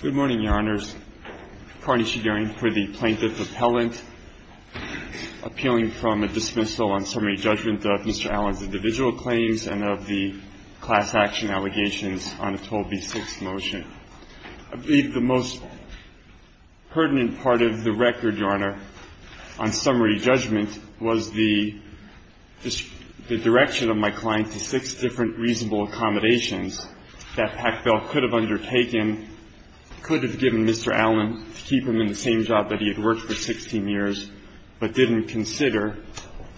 Good morning, Your Honors. Carney Shigerian for the Plaintiff Appellant, appealing from a dismissal on summary judgment of Mr. Allen's individual claims and of the class action allegations on the 12b6 motion. I believe the most pertinent part of the record, Your Honor, on summary judgment was the direction of my client to six different reasonable accommodations that Pack Bell could have undertaken, could have given Mr. Allen to keep him in the same job that he had worked for 16 years but didn't consider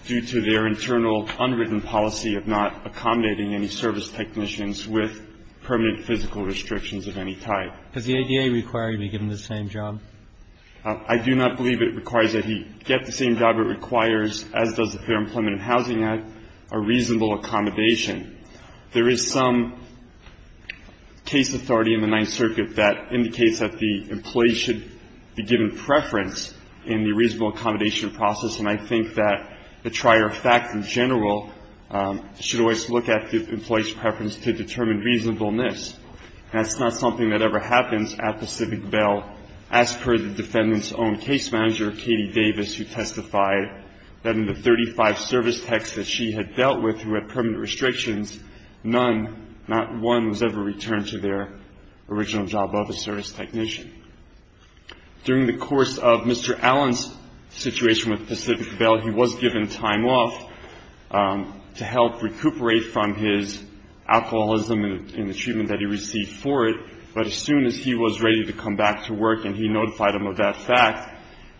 due to their internal unwritten policy of not accommodating any service technicians with permanent physical restrictions of any type. Roberts. Does the ADA require him to be given the same job? Shigerian. I do not believe it requires that he get the same job it requires, as does the Fair Employment and Housing Act, a reasonable accommodation. There is some case authority in the Ninth Circuit that indicates that the employee should be given preference in the reasonable accommodation process. And I think that the trier fact in general should always look at the employee's preference to determine reasonableness. And it's not something that ever happens at Pacific Bell, as per the defendant's own case manager, Katie Davis, who testified that in the 35 service techs that she had dealt with who had permanent restrictions, none, not one, was ever returned to their original job of a service technician. During the course of Mr. Allen's situation with Pacific Bell, he was given time off to help recuperate from his alcoholism and the treatment that he received for it. But as soon as he was ready to come back to work and he notified him of that fact,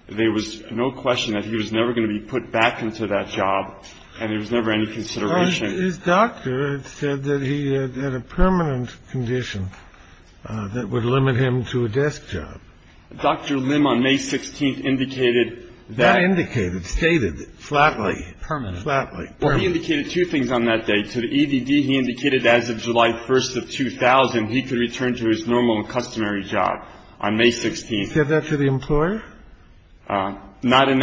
there was no question that he was never going to be put back into that job and there was never any consideration. Sotomayor's doctor had said that he had a permanent condition that would limit him to a desk job. Dr. Lim on May 16th indicated that. That indicated, stated, flatly, permanently. Flatly. He indicated two things on that day. To the EVD, he indicated as of July 1st of 2000 he could return to his normal and customary job on May 16th. He said that to the employer? The only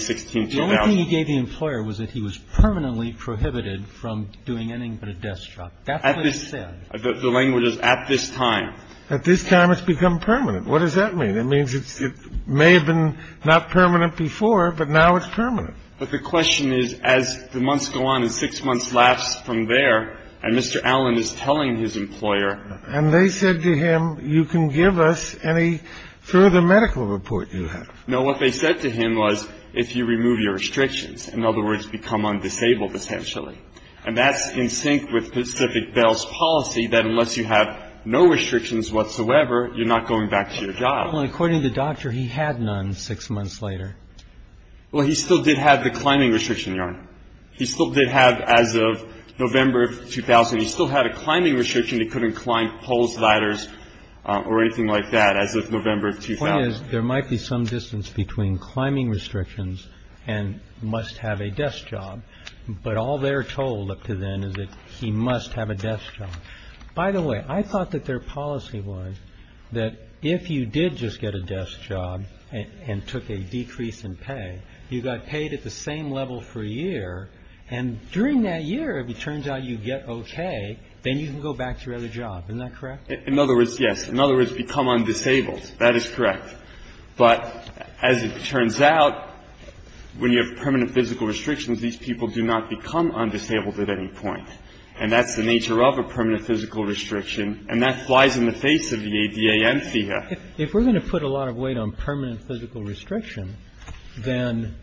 thing he gave the employer was that he was permanently prohibited from doing anything but a desk job. That's what he said. The language is at this time. At this time it's become permanent. What does that mean? It means it may have been not permanent before, but now it's permanent. But the question is, as the months go on and six months lapse from there and Mr. Allen is telling his employer. And they said to him, you can give us any further medical report you have. No, what they said to him was, if you remove your restrictions. In other words, become undisabled, essentially. And that's in sync with Pacific Bell's policy that unless you have no restrictions whatsoever, you're not going back to your job. Well, according to the doctor, he had none six months later. Well, he still did have the climbing restriction, Your Honor. He still did have, as of November of 2000, he still had a climbing restriction. He couldn't climb poles, ladders, or anything like that as of November of 2000. The point is, there might be some distance between climbing restrictions and must have a desk job. But all they're told up to then is that he must have a desk job. By the way, I thought that their policy was that if you did just get a desk job and took a decrease in pay, you got paid at the same level for a year. And during that year, if it turns out you get OK, then you can go back to your other job. Isn't that correct? In other words, yes. In other words, become undisabled. That is correct. But as it turns out, when you have permanent physical restrictions, these people do not become undisabled at any point. And that's the nature of a permanent physical restriction. And that flies in the face of the ADA and FEHA. If we're going to put a lot of weight on permanent physical restriction, then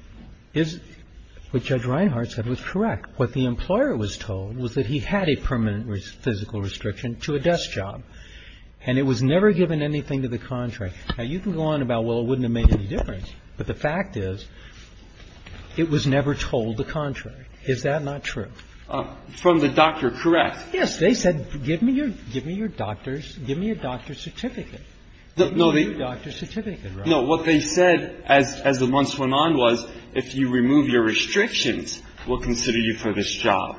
is what Judge Reinhart said was correct. What the employer was told was that he had a permanent physical restriction to a desk job. And it was never given anything to the contrary. Now, you can go on about, well, it wouldn't have made any difference. But the fact is it was never told the contrary. Is that not true? From the doctor, correct. Yes. They said, give me your doctor's certificate. Give me your doctor's certificate. No. What they said as the months went on was if you remove your restrictions, we'll consider you for this job.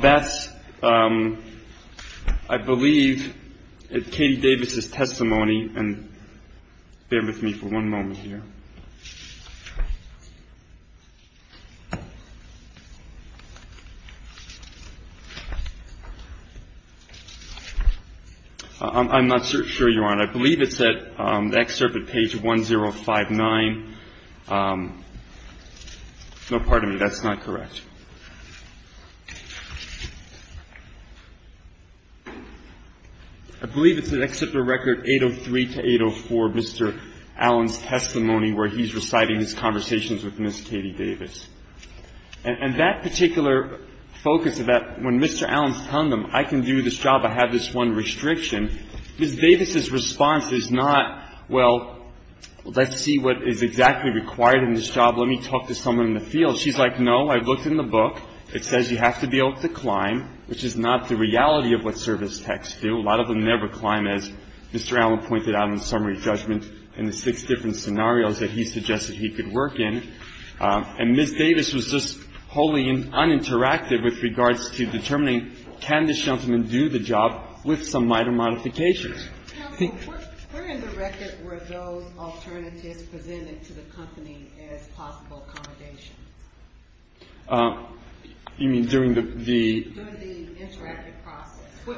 That's, I believe, Katie Davis' testimony. And bear with me for one moment here. I'm not sure you are. And I believe it's at the excerpt at page 1059. No, pardon me. That's not correct. I believe it's at Excerpt of Record 803-804, Mr. Allen's testimony, where he's reciting his conversations with Ms. Katie Davis. And that particular focus of that, when Mr. Allen's telling them, I can do this job, I have this one restriction, Ms. Davis' response is not, well, let's see what is exactly required in this job. Let me talk to someone in the field. She's like, no, I looked in the book. It says you have to be able to climb, which is not the reality of what service techs do. A lot of them never climb, as Mr. Allen pointed out in summary judgment in the six different scenarios that he suggested he could work in. And Ms. Davis was just wholly uninteractive with regards to determining can this gentleman do the job with some minor modifications. Ms. Davis. Counsel, where in the record were those alternatives presented to the company as possible accommodations? You mean during the? During the interactive process. When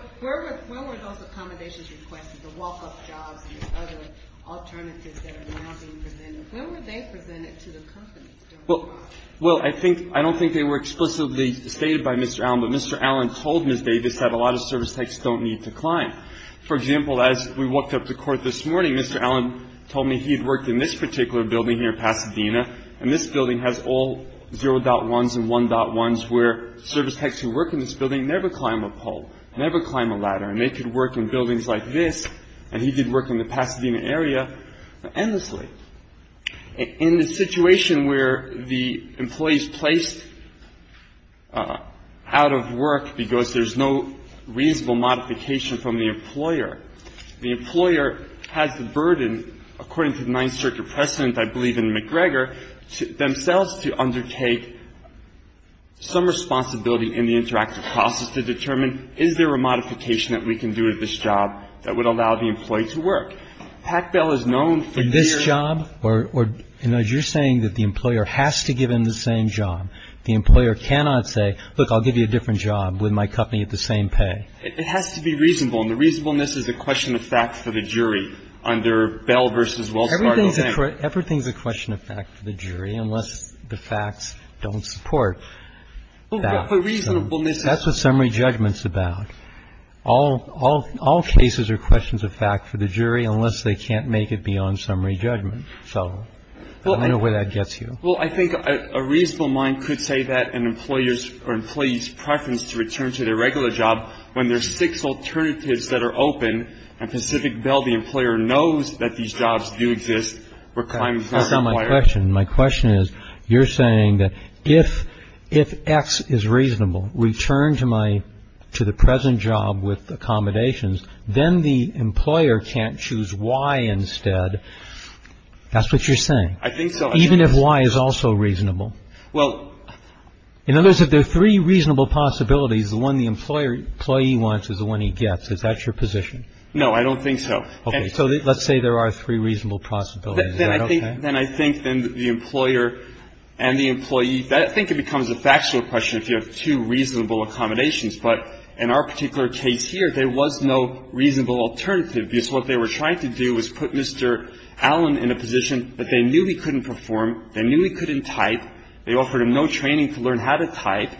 were those accommodations requested, the walk-up jobs and the other alternatives that are now being presented? When were they presented to the company? Well, I don't think they were explicitly stated by Mr. Allen, but Mr. Allen told Ms. Davis that a lot of service techs don't need to climb. For example, as we walked up to court this morning, Mr. Allen told me he had worked in this particular building here in Pasadena, and this building has all 0.1s and 1.1s where service techs who work in this building never climb a pole, never climb a ladder. And they could work in buildings like this, and he did work in the Pasadena area endlessly. In the situation where the employee is placed out of work because there's no reasonable modification from the employer, the employer has the burden, according to the Ninth Circuit precedent, I believe in McGregor, themselves to undertake some responsibility in the interactive process to determine is there a modification that we can do at this job that would allow the employee to work. Pack Bell is known for years. In this job? Or, you know, you're saying that the employer has to give him the same job. The employer cannot say, look, I'll give you a different job with my company at the same pay. It has to be reasonable, and the reasonableness is a question of fact for the jury under Bell v. Wells Fargo. Everything's a question of fact for the jury unless the facts don't support that. But reasonableness is. That's what summary judgment's about. All cases are questions of fact for the jury unless they can't make it beyond summary judgment. So I don't know where that gets you. Well, I think a reasonable mind could say that an employer's or employee's preference to return to their regular job when there's six alternatives that are open and Pacific Bell, the employer, knows that these jobs do exist. That's not my question. My question is, you're saying that if X is reasonable, return to my to the present job with accommodations, then the employer can't choose Y instead. That's what you're saying. I think so. Even if Y is also reasonable. Well. In other words, if there are three reasonable possibilities, the one the employer employee wants is the one he gets. Is that your position? No, I don't think so. So let's say there are three reasonable possibilities. Then I think then the employer and the employee, I think it becomes a factual question if you have two reasonable accommodations. But in our particular case here, there was no reasonable alternative because what they were trying to do was put Mr. Allen in a position that they knew he couldn't perform, they knew he couldn't type, they offered him no training to learn how to type.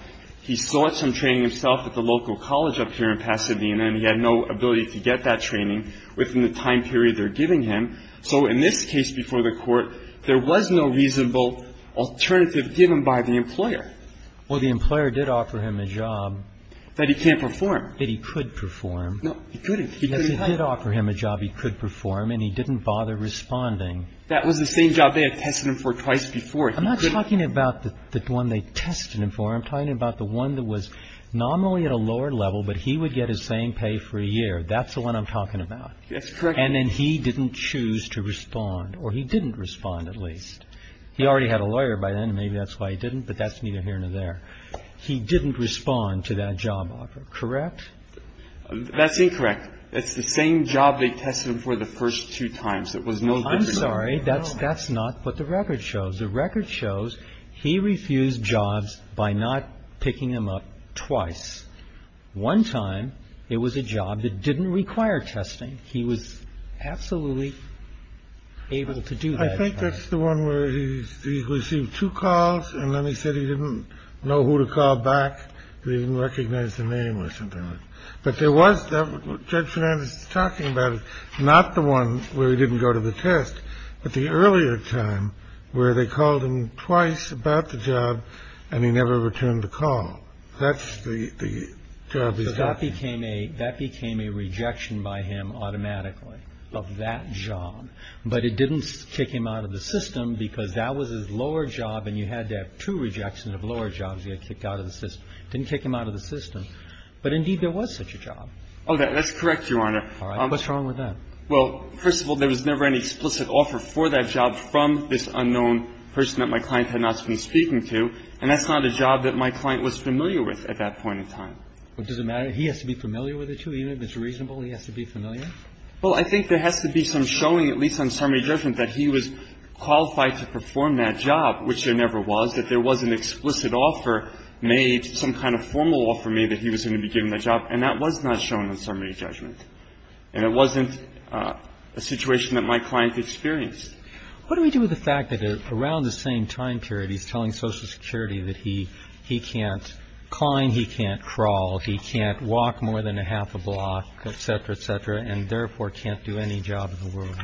He sought some training himself at the local college up here in Pasadena, and he had no ability to get that training within the time period they're giving him. So in this case before the Court, there was no reasonable alternative given by the employer. Well, the employer did offer him a job. That he can't perform. That he could perform. No, he couldn't. He couldn't type. Yes, he did offer him a job he could perform, and he didn't bother responding. That was the same job they had tested him for twice before. I'm not talking about the one they tested him for. I'm talking about the one that was nominally at a lower level, but he would get his same pay for a year. That's the one I'm talking about. That's correct. And then he didn't choose to respond, or he didn't respond at least. He already had a lawyer by then, maybe that's why he didn't, but that's neither here nor there. He didn't respond to that job offer, correct? That's incorrect. It's the same job they tested him for the first two times. It was no different. I'm sorry, that's not what the record shows. The record shows he refused jobs by not picking them up twice. One time it was a job that didn't require testing. He was absolutely able to do that. I think that's the one where he received two calls, and then he said he didn't know who to call back, that he didn't recognize the name or something like that. But there was, Judge Fernandez is talking about it, not the one where he didn't go to the test, but the earlier time where they called him twice about the job, and he never returned the call. That's the job he's talking about. That became a rejection by him automatically of that job. But it didn't kick him out of the system because that was his lower job, and you had to have two rejections of lower jobs you had to kick out of the system. It didn't kick him out of the system. But, indeed, there was such a job. Oh, that's correct, Your Honor. All right. What's wrong with that? Well, first of all, there was never any explicit offer for that job from this unknown person that my client had not been speaking to, and that's not a job that my client was familiar with at that point in time. What does it matter? He has to be familiar with it, too? Even if it's reasonable, he has to be familiar? Well, I think there has to be some showing, at least on summary judgment, that he was qualified to perform that job, which there never was, that there was an explicit offer made, some kind of formal offer made, that he was going to be given that job, and that was not shown on summary judgment. And it wasn't a situation that my client experienced. What do we do with the fact that around the same time period, he's telling Social Security that he can't climb, he can't crawl, he can't walk more than a half a block, et cetera, et cetera, and therefore can't do any job in the world?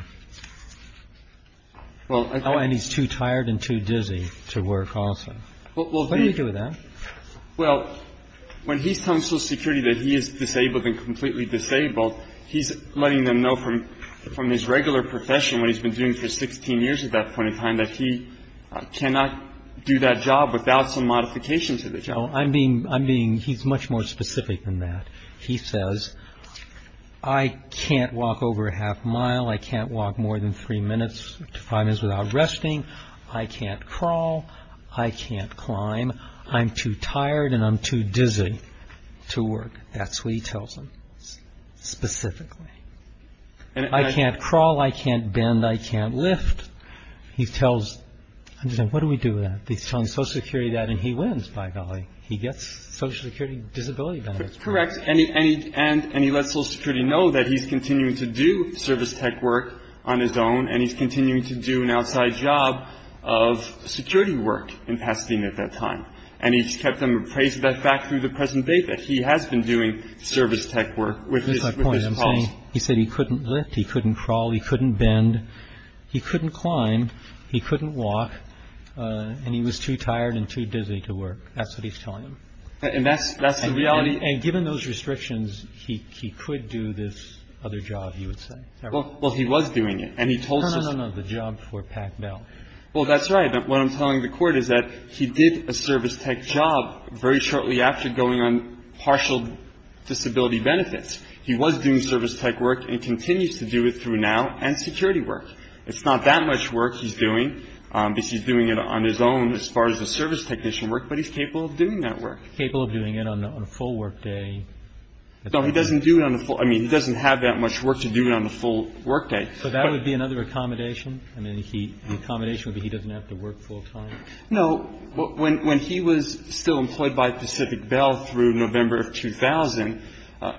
And he's too tired and too dizzy to work also. What do we do with that? Well, when he's telling Social Security that he is disabled and completely disabled, he's letting them know from his regular profession, what he's been doing for 16 years at that point in time, that he cannot do that job without some modification to the job. He's much more specific than that. He says, I can't walk over a half mile, I can't walk more than three minutes to five minutes without resting, I can't crawl, I can't climb, I'm too tired and I'm too dizzy to work. That's what he tells them specifically. I can't crawl, I can't bend, I can't lift. He tells them, what do we do with that? He's telling Social Security that, and he wins, by golly. He gets Social Security disability benefits. Correct. And he lets Social Security know that he's continuing to do service tech work on his own and he's continuing to do an outside job of security work in Pasadena at that time. And he's kept them appraised of that fact through the present day, that he has been doing service tech work with his pulse. That's my point. He said he couldn't lift, he couldn't crawl, he couldn't bend. He couldn't climb, he couldn't walk, and he was too tired and too dizzy to work. That's what he's telling them. And that's the reality. And given those restrictions, he could do this other job, you would say. Well, he was doing it. No, no, no. The job for Pac Bell. Well, that's right. What I'm telling the Court is that he did a service tech job very shortly after going on partial disability benefits. He was doing service tech work and continues to do it through now and security work. It's not that much work he's doing because he's doing it on his own as far as the service technician work, but he's capable of doing that work. Capable of doing it on a full workday. No, he doesn't do it on the full. I mean, he doesn't have that much work to do it on the full workday. So that would be another accommodation? I mean, the accommodation would be he doesn't have to work full time? No. When he was still employed by Pacific Bell through November of 2000,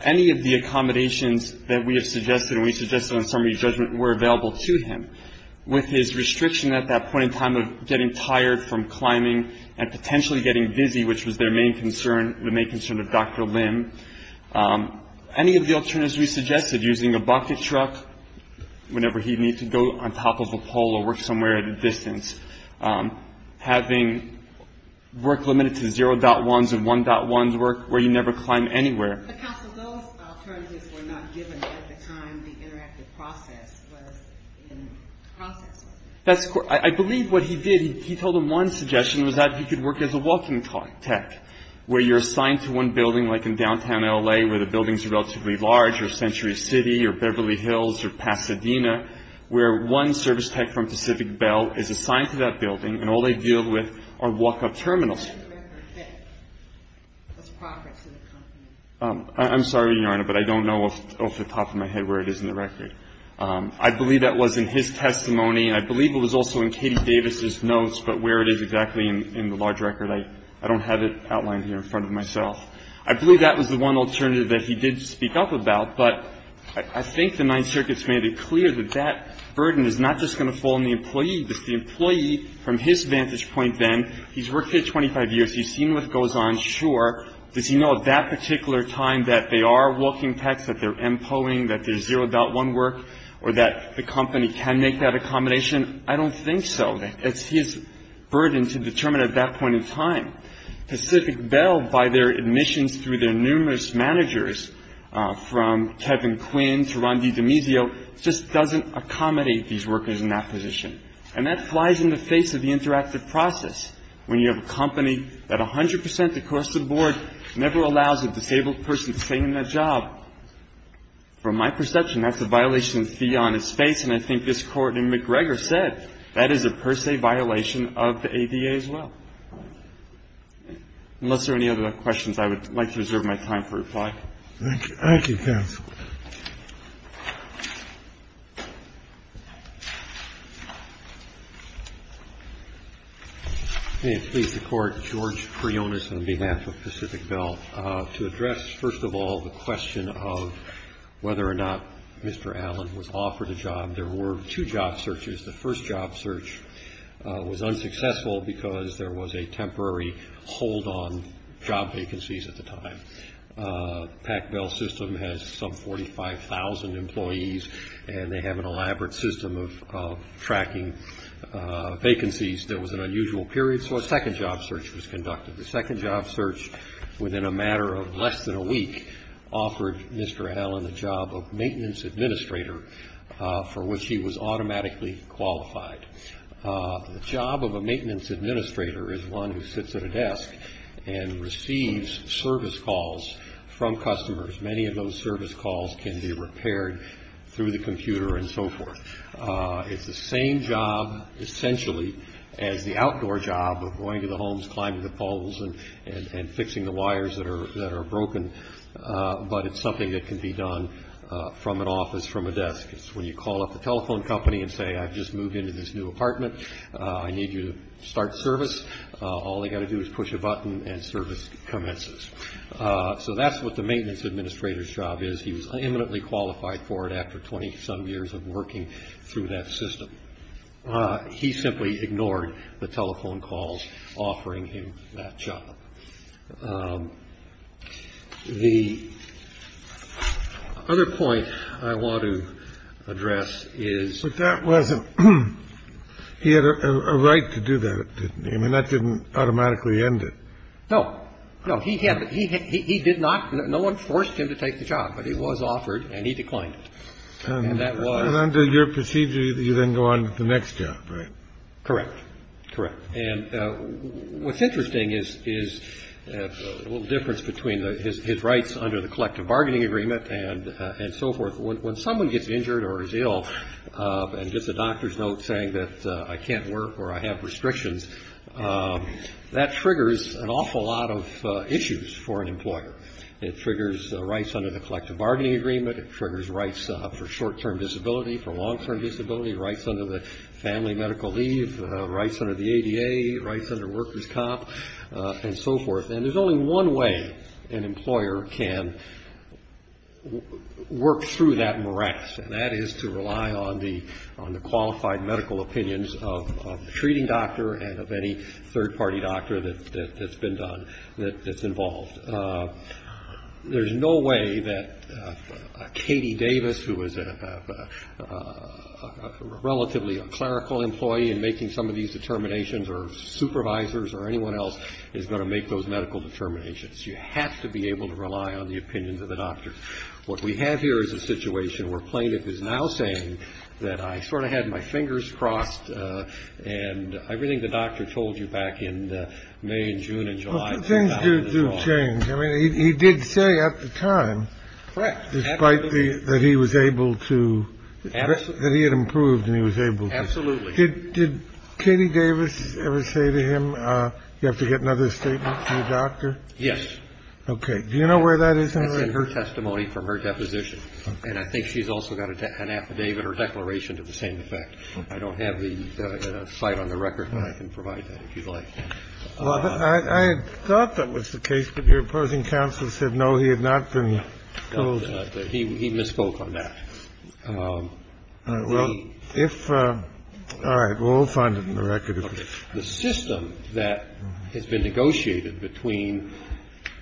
any of the accommodations that we have suggested and we suggested on summary judgment were available to him. With his restriction at that point in time of getting tired from climbing and potentially getting busy, which was their main concern, the main concern of Dr. Lim, any of the alternatives we suggested, using a bucket truck whenever he needed to go on top of a pole or work somewhere at a distance, having work limited to 0.1s and 1.1s work where you never climb anywhere. But, Council, those alternatives were not given at the time the interactive process was in process. I believe what he did, he told them one suggestion was that he could work as a walking tech, where you're assigned to one building, like in downtown L.A., where the buildings are relatively large or Century City or Beverly Hills or Pasadena, where one service tech from Pacific Bell is assigned to that building and all they deal with are walk-up terminals. I'm sorry, Your Honor, but I don't know off the top of my head where it is in the record. I believe that was in his testimony. I believe it was also in Katie Davis's notes, but where it is exactly in the large record, I don't have it outlined here in front of myself. I believe that was the one alternative that he did speak up about, but I think the Ninth the employee, from his vantage point then, he's worked here 25 years, he's seen what goes on. Sure, does he know at that particular time that they are walking techs, that they're MPOing, that there's 0.1 work, or that the company can make that accommodation? I don't think so. It's his burden to determine at that point in time. Pacific Bell, by their admissions through their numerous managers, from Kevin Quinn to Ron DiDemisio, just doesn't accommodate these workers in that position. And that flies in the face of the interactive process, when you have a company that 100 percent, across the board, never allows a disabled person to stay in that job. From my perception, that's a violation of the fee on his face, and I think this Court in McGregor said that is a per se violation of the ADA as well. Unless there are any other questions, I would like to reserve my time for reply. Thank you. Thank you, counsel. May it please the Court, George Prionas on behalf of Pacific Bell, to address, first of all, the question of whether or not Mr. Allen was offered a job. There were two job searches. The first job search was unsuccessful because there was a temporary hold on job vacancies at the time. Pac Bell's system has some 45,000 employees, and they have an elaborate system of tracking vacancies. There was an unusual period, so a second job search was conducted. The second job search, within a matter of less than a week, offered Mr. Allen the job of maintenance administrator, for which he was automatically qualified. The job of a maintenance administrator is one who sits at a desk and receives service calls from customers. Many of those service calls can be repaired through the computer and so forth. It's the same job, essentially, as the outdoor job of going to the homes, climbing the poles, and fixing the wires that are broken, but it's something that can be done from an office, from a desk. It's when you call up the telephone company and say, I've just moved into this new apartment. I need you to start service. All they've got to do is push a button, and service commences. So that's what the maintenance administrator's job is. He was imminently qualified for it after 20-some years of working through that system. He simply ignored the telephone calls offering him that job. The other point I want to address is that that wasn't he had a right to do that, didn't he? I mean, that didn't automatically end it. No. No, he did not. No one forced him to take the job, but he was offered, and he declined it. And that was. And under your procedure, you then go on to the next job, right? Correct. Correct. And what's interesting is a little difference between his rights under the collective bargaining agreement and so forth. When someone gets injured or is ill and gets a doctor's note saying that I can't work or I have restrictions, that triggers an awful lot of issues for an employer. It triggers rights under the collective bargaining agreement. It triggers rights for short-term disability, for long-term disability, rights under the family medical leave, rights under the ADA, rights under workers' comp, and so forth. And there's only one way an employer can work through that morass, and that is to rely on the qualified medical opinions of the treating doctor and of any third-party doctor that's been done, that's involved. There's no way that Katie Davis, who is a relatively clerical employee and making some of these determinations, or supervisors or anyone else is going to make those medical determinations. You have to be able to rely on the opinions of the doctor. What we have here is a situation where a plaintiff is now saying that I sort of had my fingers crossed and everything the doctor told you back in May and June and July. Things do change. I mean, he did say at the time, despite that he was able to, that he had improved and he was able to. Absolutely. Did Katie Davis ever say to him, you have to get another statement from the doctor? Yes. Okay. Do you know where that is? That's in her testimony from her deposition. And I think she's also got an affidavit or declaration to the same effect. I don't have the site on the record, but I can provide that if you'd like. I thought that was the case, but your opposing counsel said no, he had not been told. He misspoke on that. All right. We'll find it in the record. The system that has been negotiated between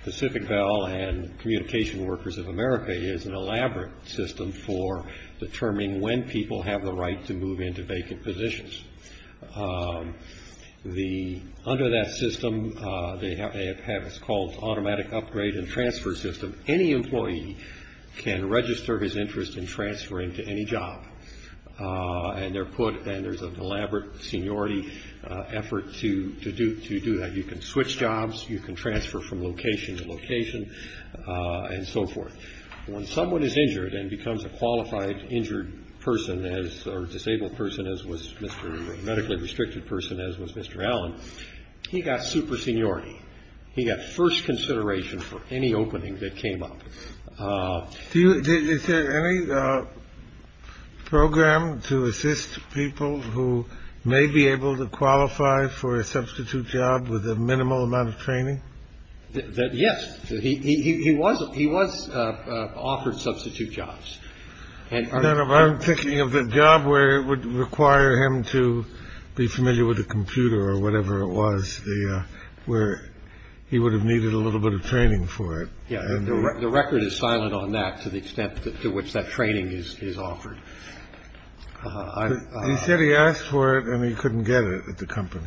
Pacific Bell and Communication Workers of America is an elaborate system for determining when people have the right to move into vacant positions. Under that system, they have what's called automatic upgrade and transfer system. Any employee can register his interest in transferring to any job. And they're put, and there's an elaborate seniority effort to do that. You can switch jobs. You can transfer from location to location and so forth. When someone is injured and becomes a qualified injured person or disabled person, as was Mr. or medically restricted person, as was Mr. Allen, he got super seniority. He got first consideration for any opening that came up. Is there any program to assist people who may be able to qualify for a substitute job with a minimal amount of training? Yes. He wasn't. He was offered substitute jobs. And I'm thinking of the job where it would require him to be familiar with a computer or whatever it was where he would have needed a little bit of training for it. Yeah. The record is silent on that to the extent to which that training is offered. He said he asked for it and he couldn't get it at the company.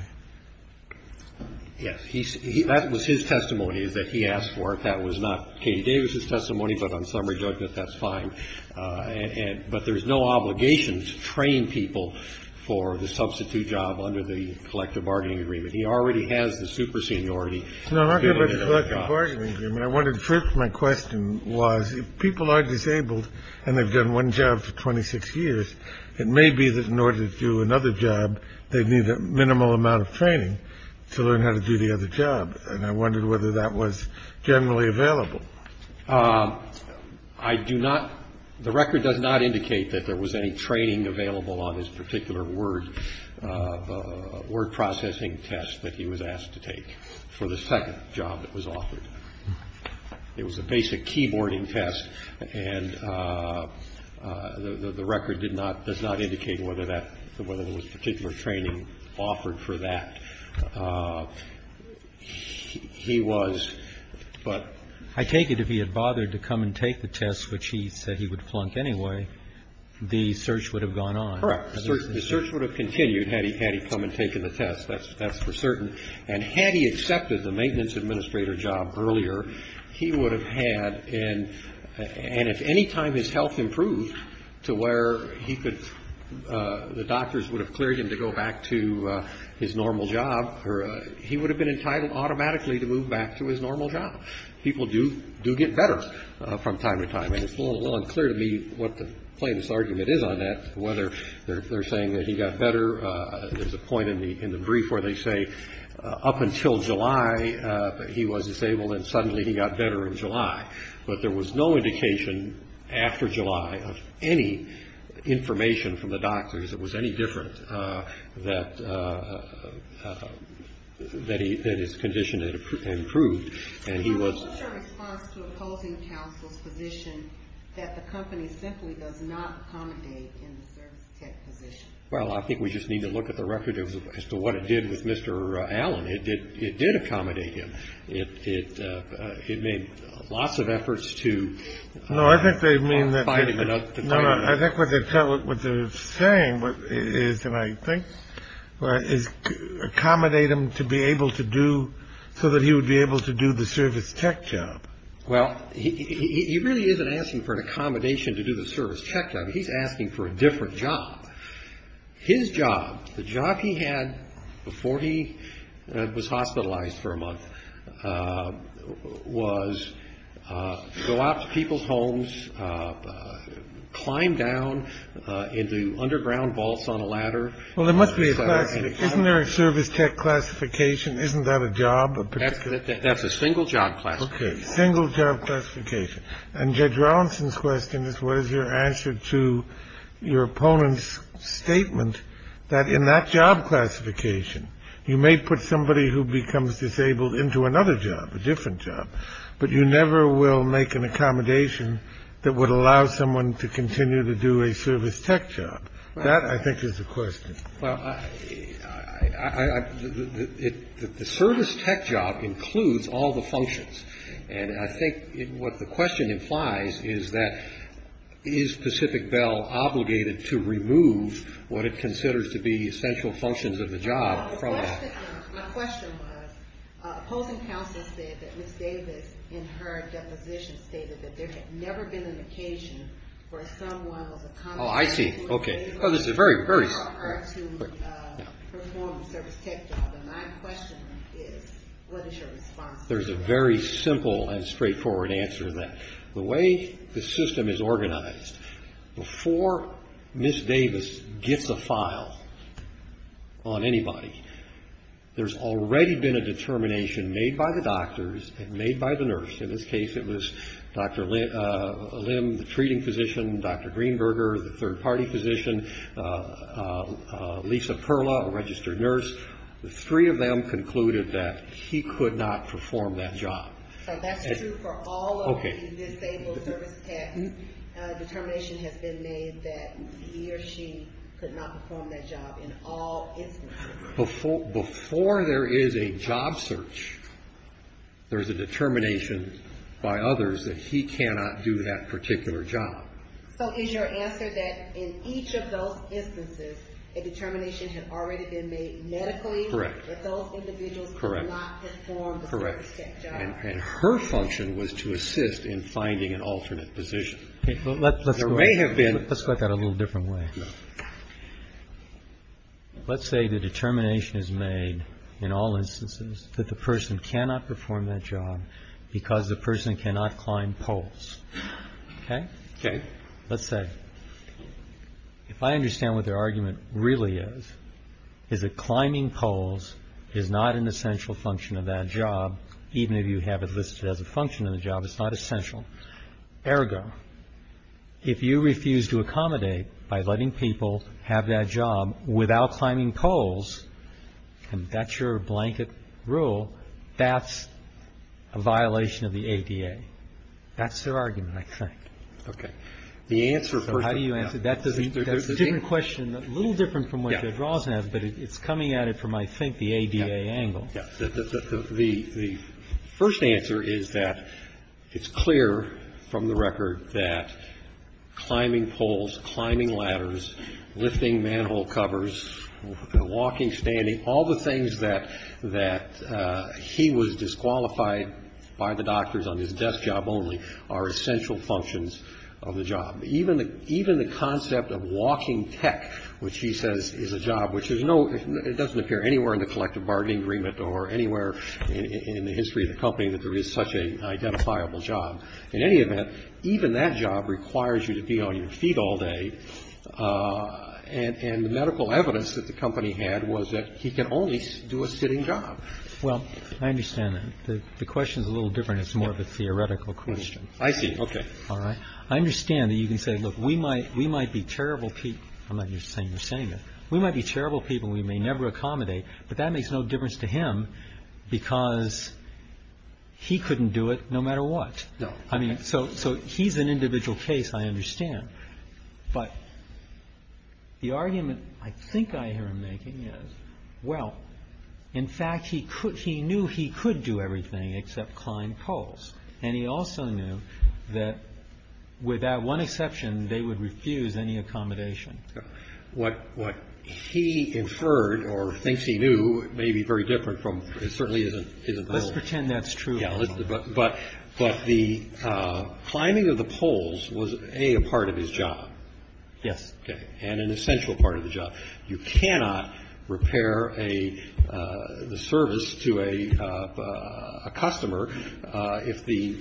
Yes. He said that was his testimony is that he asked for it. That was not Katie Davis's testimony. But on summary judgment, that's fine. And but there is no obligation to train people for the substitute job under the collective bargaining agreement. He already has the super seniority. No, I'm not talking about the collective bargaining agreement. I wanted first. My question was, if people are disabled and they've done one job for 26 years, it may be that in order to do another job, they need a minimal amount of training to learn how to do the other job. And I wondered whether that was generally available. I do not. The record does not indicate that there was any training available on this particular word word processing test that he was asked to take for the second job that was offered. It was a basic keyboarding test. And the record did not, does not indicate whether that, whether there was particular training offered for that. He was, but. I take it if he had bothered to come and take the test, which he said he would plunk anyway, the search would have gone on. Correct. The search would have continued had he come and taken the test. That's for certain. And had he accepted the maintenance administrator job earlier, he would have had. And if any time his health improved to where he could, the doctors would have cleared him to go back to his normal job, he would have been entitled automatically to move back to his normal job. People do do get better from time to time. And it's a little unclear to me what the plainest argument is on that, whether they're saying that he got better. There's a point in the in the brief where they say up until July he was disabled and suddenly he got better in July. But there was no indication after July of any information from the doctors that was any different that that he that his condition had improved. And he was. Opposing counsel's position that the company simply does not accommodate in the service tech position. Well, I think we just need to look at the record as to what it did with Mr. Allen. It did. It did accommodate him. It made lots of efforts to. No, I think they mean that. I think what they're saying is and I think is accommodate him to be able to do so that he would be able to do the service tech job. Well, he really isn't asking for an accommodation to do the service tech job. He's asking for a different job. His job. The job he had before he was hospitalized for a month was go out to people's homes, climb down into underground vaults on a ladder. Well, there must be. Isn't there a service tech classification? Isn't that a job? That's a single job classification. Single job classification. And Judge Rawlinson's question is what is your answer to your opponent's statement that in that job classification, you may put somebody who becomes disabled into another job, a different job, but you never will make an accommodation that would allow someone to continue to do a service tech job. That, I think, is the question. Well, the service tech job includes all the functions. And I think what the question implies is that is Pacific Bell obligated to remove what it considers to be essential functions of the job from that? My question was opposing counsel said that Ms. Davis in her deposition stated that there had never been an occasion where someone was accommodated. Oh, I see. Okay. Oh, this is very, very. To perform a service tech job. And my question is what is your response to that? There's a very simple and straightforward answer to that. The way the system is organized, before Ms. Davis gets a file on anybody, there's already been a determination made by the doctors and made by the nurse. In this case, it was Dr. Lim, the treating physician, Dr. Greenberger, the third-party physician, Lisa Perla, a registered nurse. The three of them concluded that he could not perform that job. So that's true for all of the disabled service techs. A determination has been made that he or she could not perform that job in all instances. Before there is a job search, there's a determination by others that he cannot do that particular job. So is your answer that in each of those instances, a determination had already been made medically? Correct. That those individuals could not perform the service tech job? Correct. And her function was to assist in finding an alternate position. There may have been. Let's look at it a little different way. Let's say the determination is made in all instances that the person cannot perform that job because the person cannot climb poles. Okay? Okay. Let's say, if I understand what their argument really is, is that climbing poles is not an essential function of that job, even if you have it listed as a function of the job, it's not essential. Ergo, if you refuse to accommodate by letting people have that job without climbing poles, and that's your blanket rule, that's a violation of the ADA. That's their argument, I think. Okay. So how do you answer that? That's a different question, a little different from what Ted Ross has, but it's coming at it from, I think, the ADA angle. The first answer is that it's clear from the record that climbing poles, climbing ladders, lifting manhole covers, walking, standing, all the things that he was disqualified by the doctors on his desk job only are essential functions of the job. Even the concept of walking tech, which he says is a job, which doesn't appear anywhere in the collective bargaining agreement or anywhere in the history of the company that there is such an identifiable job. In any event, even that job requires you to be on your feet all day, and the medical evidence that the company had was that he can only do a sitting job. Well, I understand that. The question is a little different. It's more of a theoretical question. I see. Okay. All right? I understand that you can say, look, we might be terrible people. I'm not saying you're saying that. We might be terrible people. We may never accommodate. But that makes no difference to him because he couldn't do it no matter what. No. So he's an individual case, I understand. But the argument I think I hear him making is, well, in fact, he knew he could do everything except climb poles. And he also knew that with that one exception, they would refuse any accommodation. What he inferred or thinks he knew may be very different from what certainly isn't the case. Let's pretend that's true. But the climbing of the poles was, A, a part of his job. Yes. Okay. And an essential part of the job. You cannot repair a service to a customer if the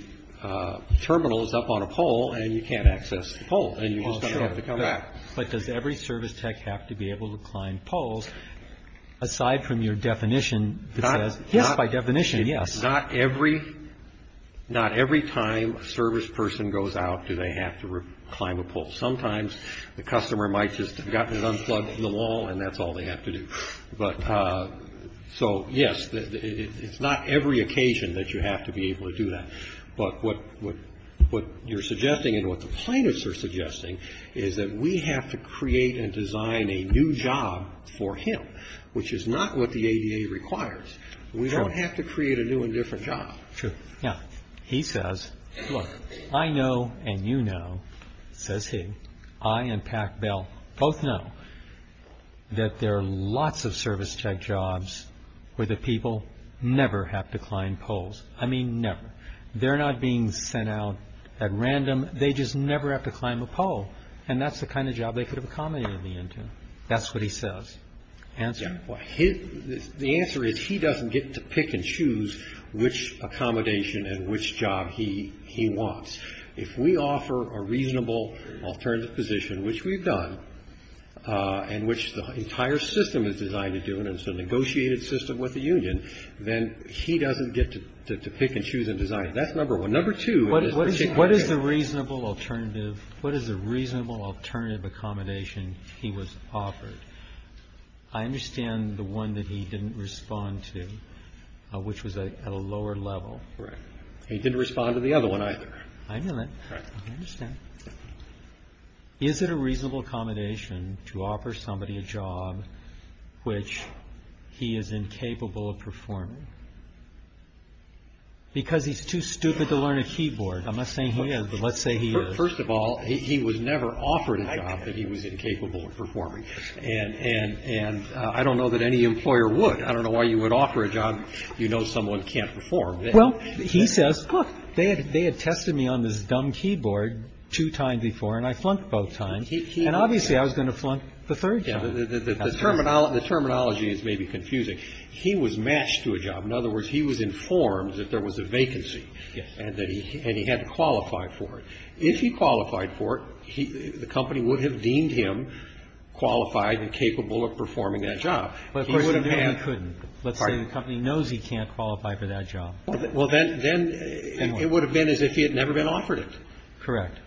terminal is up on a pole and you can't access the pole. Oh, sure. You have to come back. But does every service tech have to be able to climb poles? Aside from your definition that says, yes, by definition, yes. Not every time a service person goes out do they have to climb a pole. Sometimes the customer might just have gotten it unplugged from the wall and that's all they have to do. But so, yes, it's not every occasion that you have to be able to do that. But what you're suggesting and what the plaintiffs are suggesting is that we have to create and design a new job for him, which is not what the ADA requires. We don't have to create a new and different job. Sure. Yeah. He says, look, I know and you know, says he, I and Pat Bell both know that there are lots of service tech jobs where the people never have to climb poles. I mean, never. They're not being sent out at random. They just never have to climb a pole. And that's the kind of job they could have accommodated me into. That's what he says. Answer? The answer is he doesn't get to pick and choose which accommodation and which job he wants. If we offer a reasonable alternative position, which we've done, and which the entire system is designed to do, and it's a negotiated system with the union, then he doesn't get to pick and choose and design. That's number one. Number two. What is the reasonable alternative? What is a reasonable alternative accommodation he was offered? I understand the one that he didn't respond to, which was at a lower level. Correct. He didn't respond to the other one either. I know that. I understand. Is it a reasonable accommodation to offer somebody a job which he is incapable of performing? Because he's too stupid to learn a keyboard. I'm not saying he is, but let's say he is. First of all, he was never offered a job that he was incapable of performing. And I don't know that any employer would. I don't know why you would offer a job you know someone can't perform. Well, he says, look, they had tested me on this dumb keyboard two times before, and I flunked both times. And obviously I was going to flunk the third time. The terminology is maybe confusing. He was matched to a job. In other words, he was informed that there was a vacancy and that he had to qualify for it. If he qualified for it, the company would have deemed him qualified and capable of performing that job. Let's say the company knows he can't qualify for that job. Well, then it would have been as if he had never been offered it. Correct.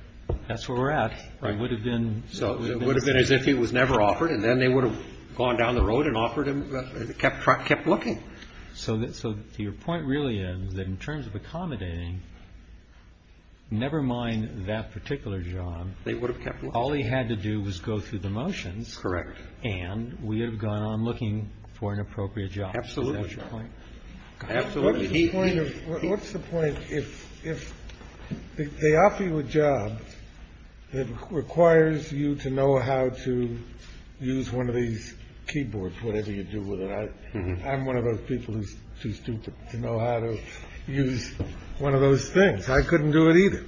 That's where we're at. It would have been as if he was never offered. And then they would have gone down the road and kept looking. So your point really is that in terms of accommodating, never mind that particular job, all he had to do was go through the motions. Correct. And we have gone on looking for an appropriate job. Absolutely. Absolutely. What's the point if they offer you a job that requires you to know how to use one of these keyboards, whatever you do with it? I'm one of those people who's too stupid to know how to use one of those things. I couldn't do it either.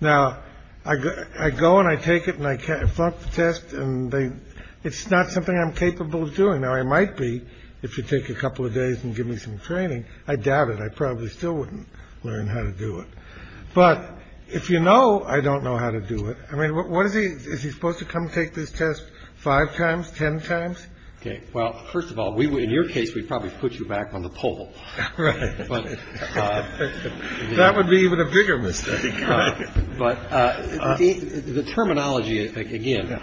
Now, I go and I take it and I can't front the test. And it's not something I'm capable of doing. Now, I might be if you take a couple of days and give me some training. I doubt it. I probably still wouldn't learn how to do it. But if you know, I don't know how to do it. I mean, what is he? Is he supposed to come take this test five times, 10 times? Well, first of all, we were in your case. We probably put you back on the pole. Right. That would be even a bigger mistake. But the terminology, again,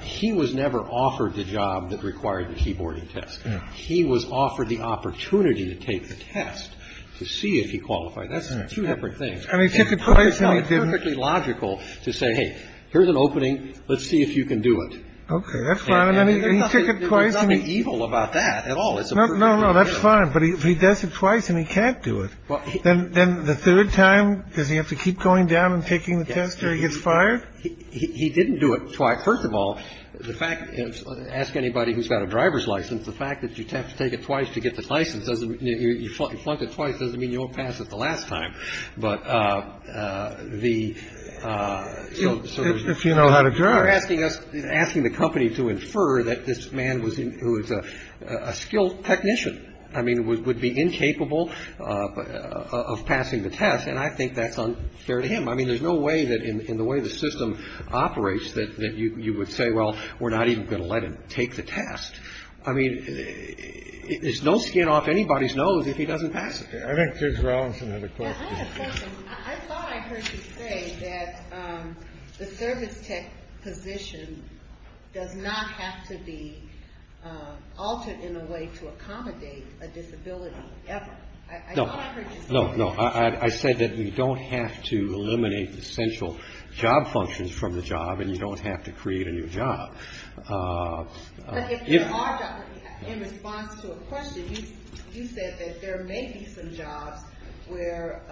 he was never offered the job that required the keyboarding test. He was offered the opportunity to take the test to see if he qualified. That's two different things. And he took it twice and he didn't. It's perfectly logical to say, hey, here's an opening. Let's see if you can do it. OK, that's fine. And he took it twice. There's nothing evil about that at all. No, no, that's fine. But he does it twice and he can't do it. Well, then the third time, does he have to keep going down and taking the test or he gets fired? He didn't do it twice. First of all, the fact is, ask anybody who's got a driver's license. The fact that you have to take it twice to get the license doesn't mean you flunk it twice. Doesn't mean you won't pass it the last time. But the if you know how to drive, asking us, asking the company to infer that this man was who is a skilled technician. I mean, would be incapable of passing the test. And I think that's unfair to him. I mean, there's no way that in the way the system operates that you would say, well, we're not even going to let him take the test. I mean, there's no skin off anybody's nose if he doesn't pass it. I think there's a question that the service tech position does not have to be altered in a way to accommodate a disability. No, no, no. I said that you don't have to eliminate essential job functions from the job and you don't have to create a new job. But if you are, in response to a question, you said that there may be some jobs where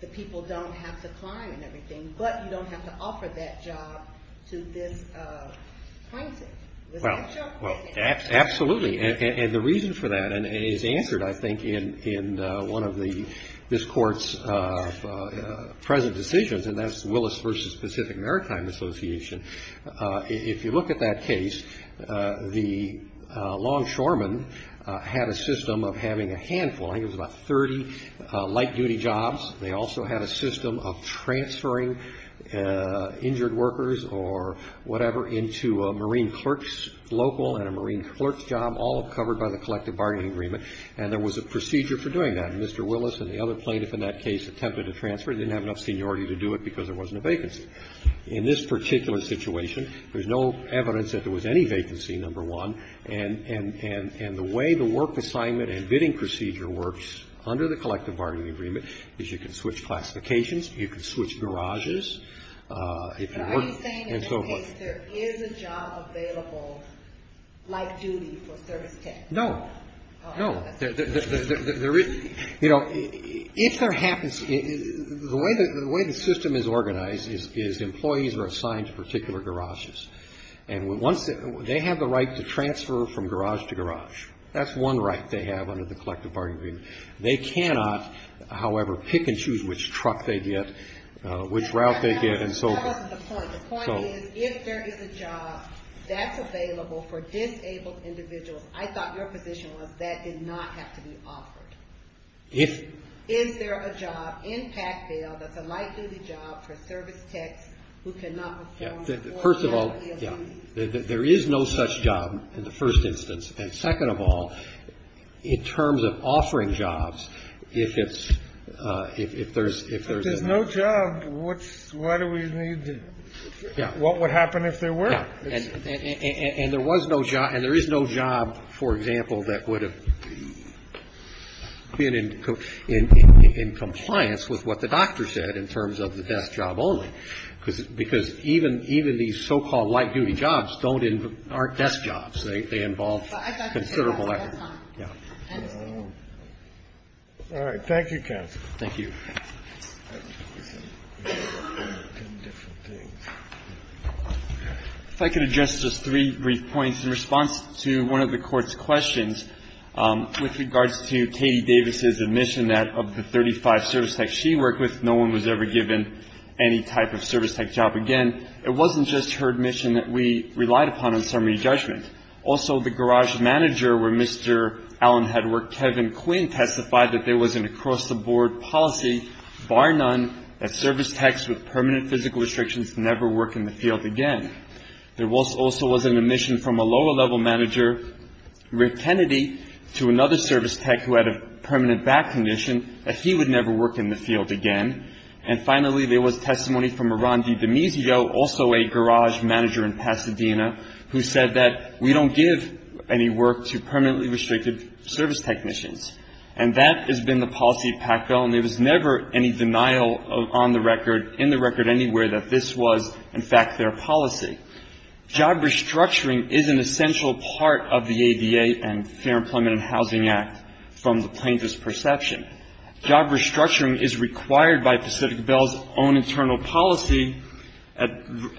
the people don't have to climb and everything, but you don't have to offer that job to this plaintiff. Well, absolutely. And the reason for that is answered, I think, in one of this court's present decisions, and that's Willis v. Pacific Maritime Association. If you look at that case, the longshoremen had a system of having a handful. I think it was about 30 light-duty jobs. They also had a system of transferring injured workers or whatever into a marine clerk's local and a marine clerk's job, all covered by the collective bargaining agreement. And there was a procedure for doing that. And Mr. Willis and the other plaintiff in that case attempted to transfer. They didn't have enough seniority to do it because there wasn't a vacancy. In this particular situation, there's no evidence that there was any vacancy, number one. And the way the work assignment and bidding procedure works under the collective bargaining agreement is you can switch classifications, you can switch garages. And so forth. Are you saying in this case there is a job available light-duty for service tech? No. No. You know, if there happens, the way the system is organized is employees are assigned to particular garages. And they have the right to transfer from garage to garage. That's one right they have under the collective bargaining agreement. They cannot, however, pick and choose which truck they get, which route they get, and so forth. That wasn't the point. The point is if there is a job that's available for disabled individuals, I thought your position was that did not have to be offered. Is there a job in Pac-Bell that's a light-duty job for service techs who cannot perform? First of all, yeah. There is no such job in the first instance. And second of all, in terms of offering jobs, if it's, if there's. If there's no job, what do we need to, what would happen if there were? And there was no job, and there is no job, for example, that would have been in compliance with what the doctor said in terms of the desk job only, because even these so-called light-duty jobs don't, aren't desk jobs. They involve considerable effort. All right. Thank you, counsel. Thank you. If I could address just three brief points in response to one of the Court's questions with regards to Katie Davis's admission that of the 35 service techs she worked with, no one was ever given any type of service tech job again. It wasn't just her admission that we relied upon on summary judgment. Also, the garage manager where Mr. Allen had worked, Kevin Quinn, testified that there was an across-the-board policy, bar none, that service techs with permanent physical restrictions never work in the field again. There also was an admission from a lower-level manager, Rick Kennedy, to another service tech who had a permanent back condition, that he would never work in the field again. And finally, there was testimony from a Ron DiDemisio, also a garage manager in Pasadena, who said that we don't give any work to permanently restricted service technicians. And that has been the policy of PACBEL, and there was never any denial on the record, in the record anywhere, that this was, in fact, their policy. Job restructuring is an essential part of the ADA and Fair Employment and Housing Act from the plaintiff's perception. Job restructuring is required by Pacific BEL's own internal policy.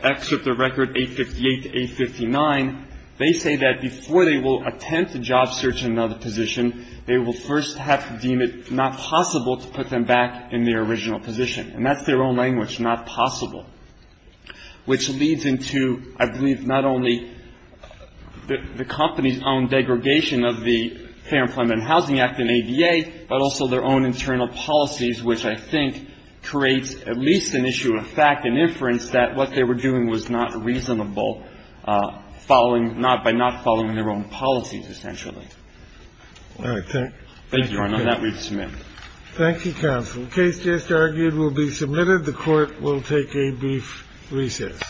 Exit the record 858 to 859, they say that before they will attempt a job search in another position, they will first have to deem it not possible to put them back in their original position. And that's their own language, not possible, which leads into, I believe, not only the company's own degradation of the Fair Employment and Housing Act and ADA, but also their own internal policies, which I think creates at least an issue of fact and inference that what they were doing was not reasonable by not following their own policies, essentially. Thank you, Your Honor. That reads to me. Thank you, counsel. The case just argued will be submitted. The Court will take a brief recess.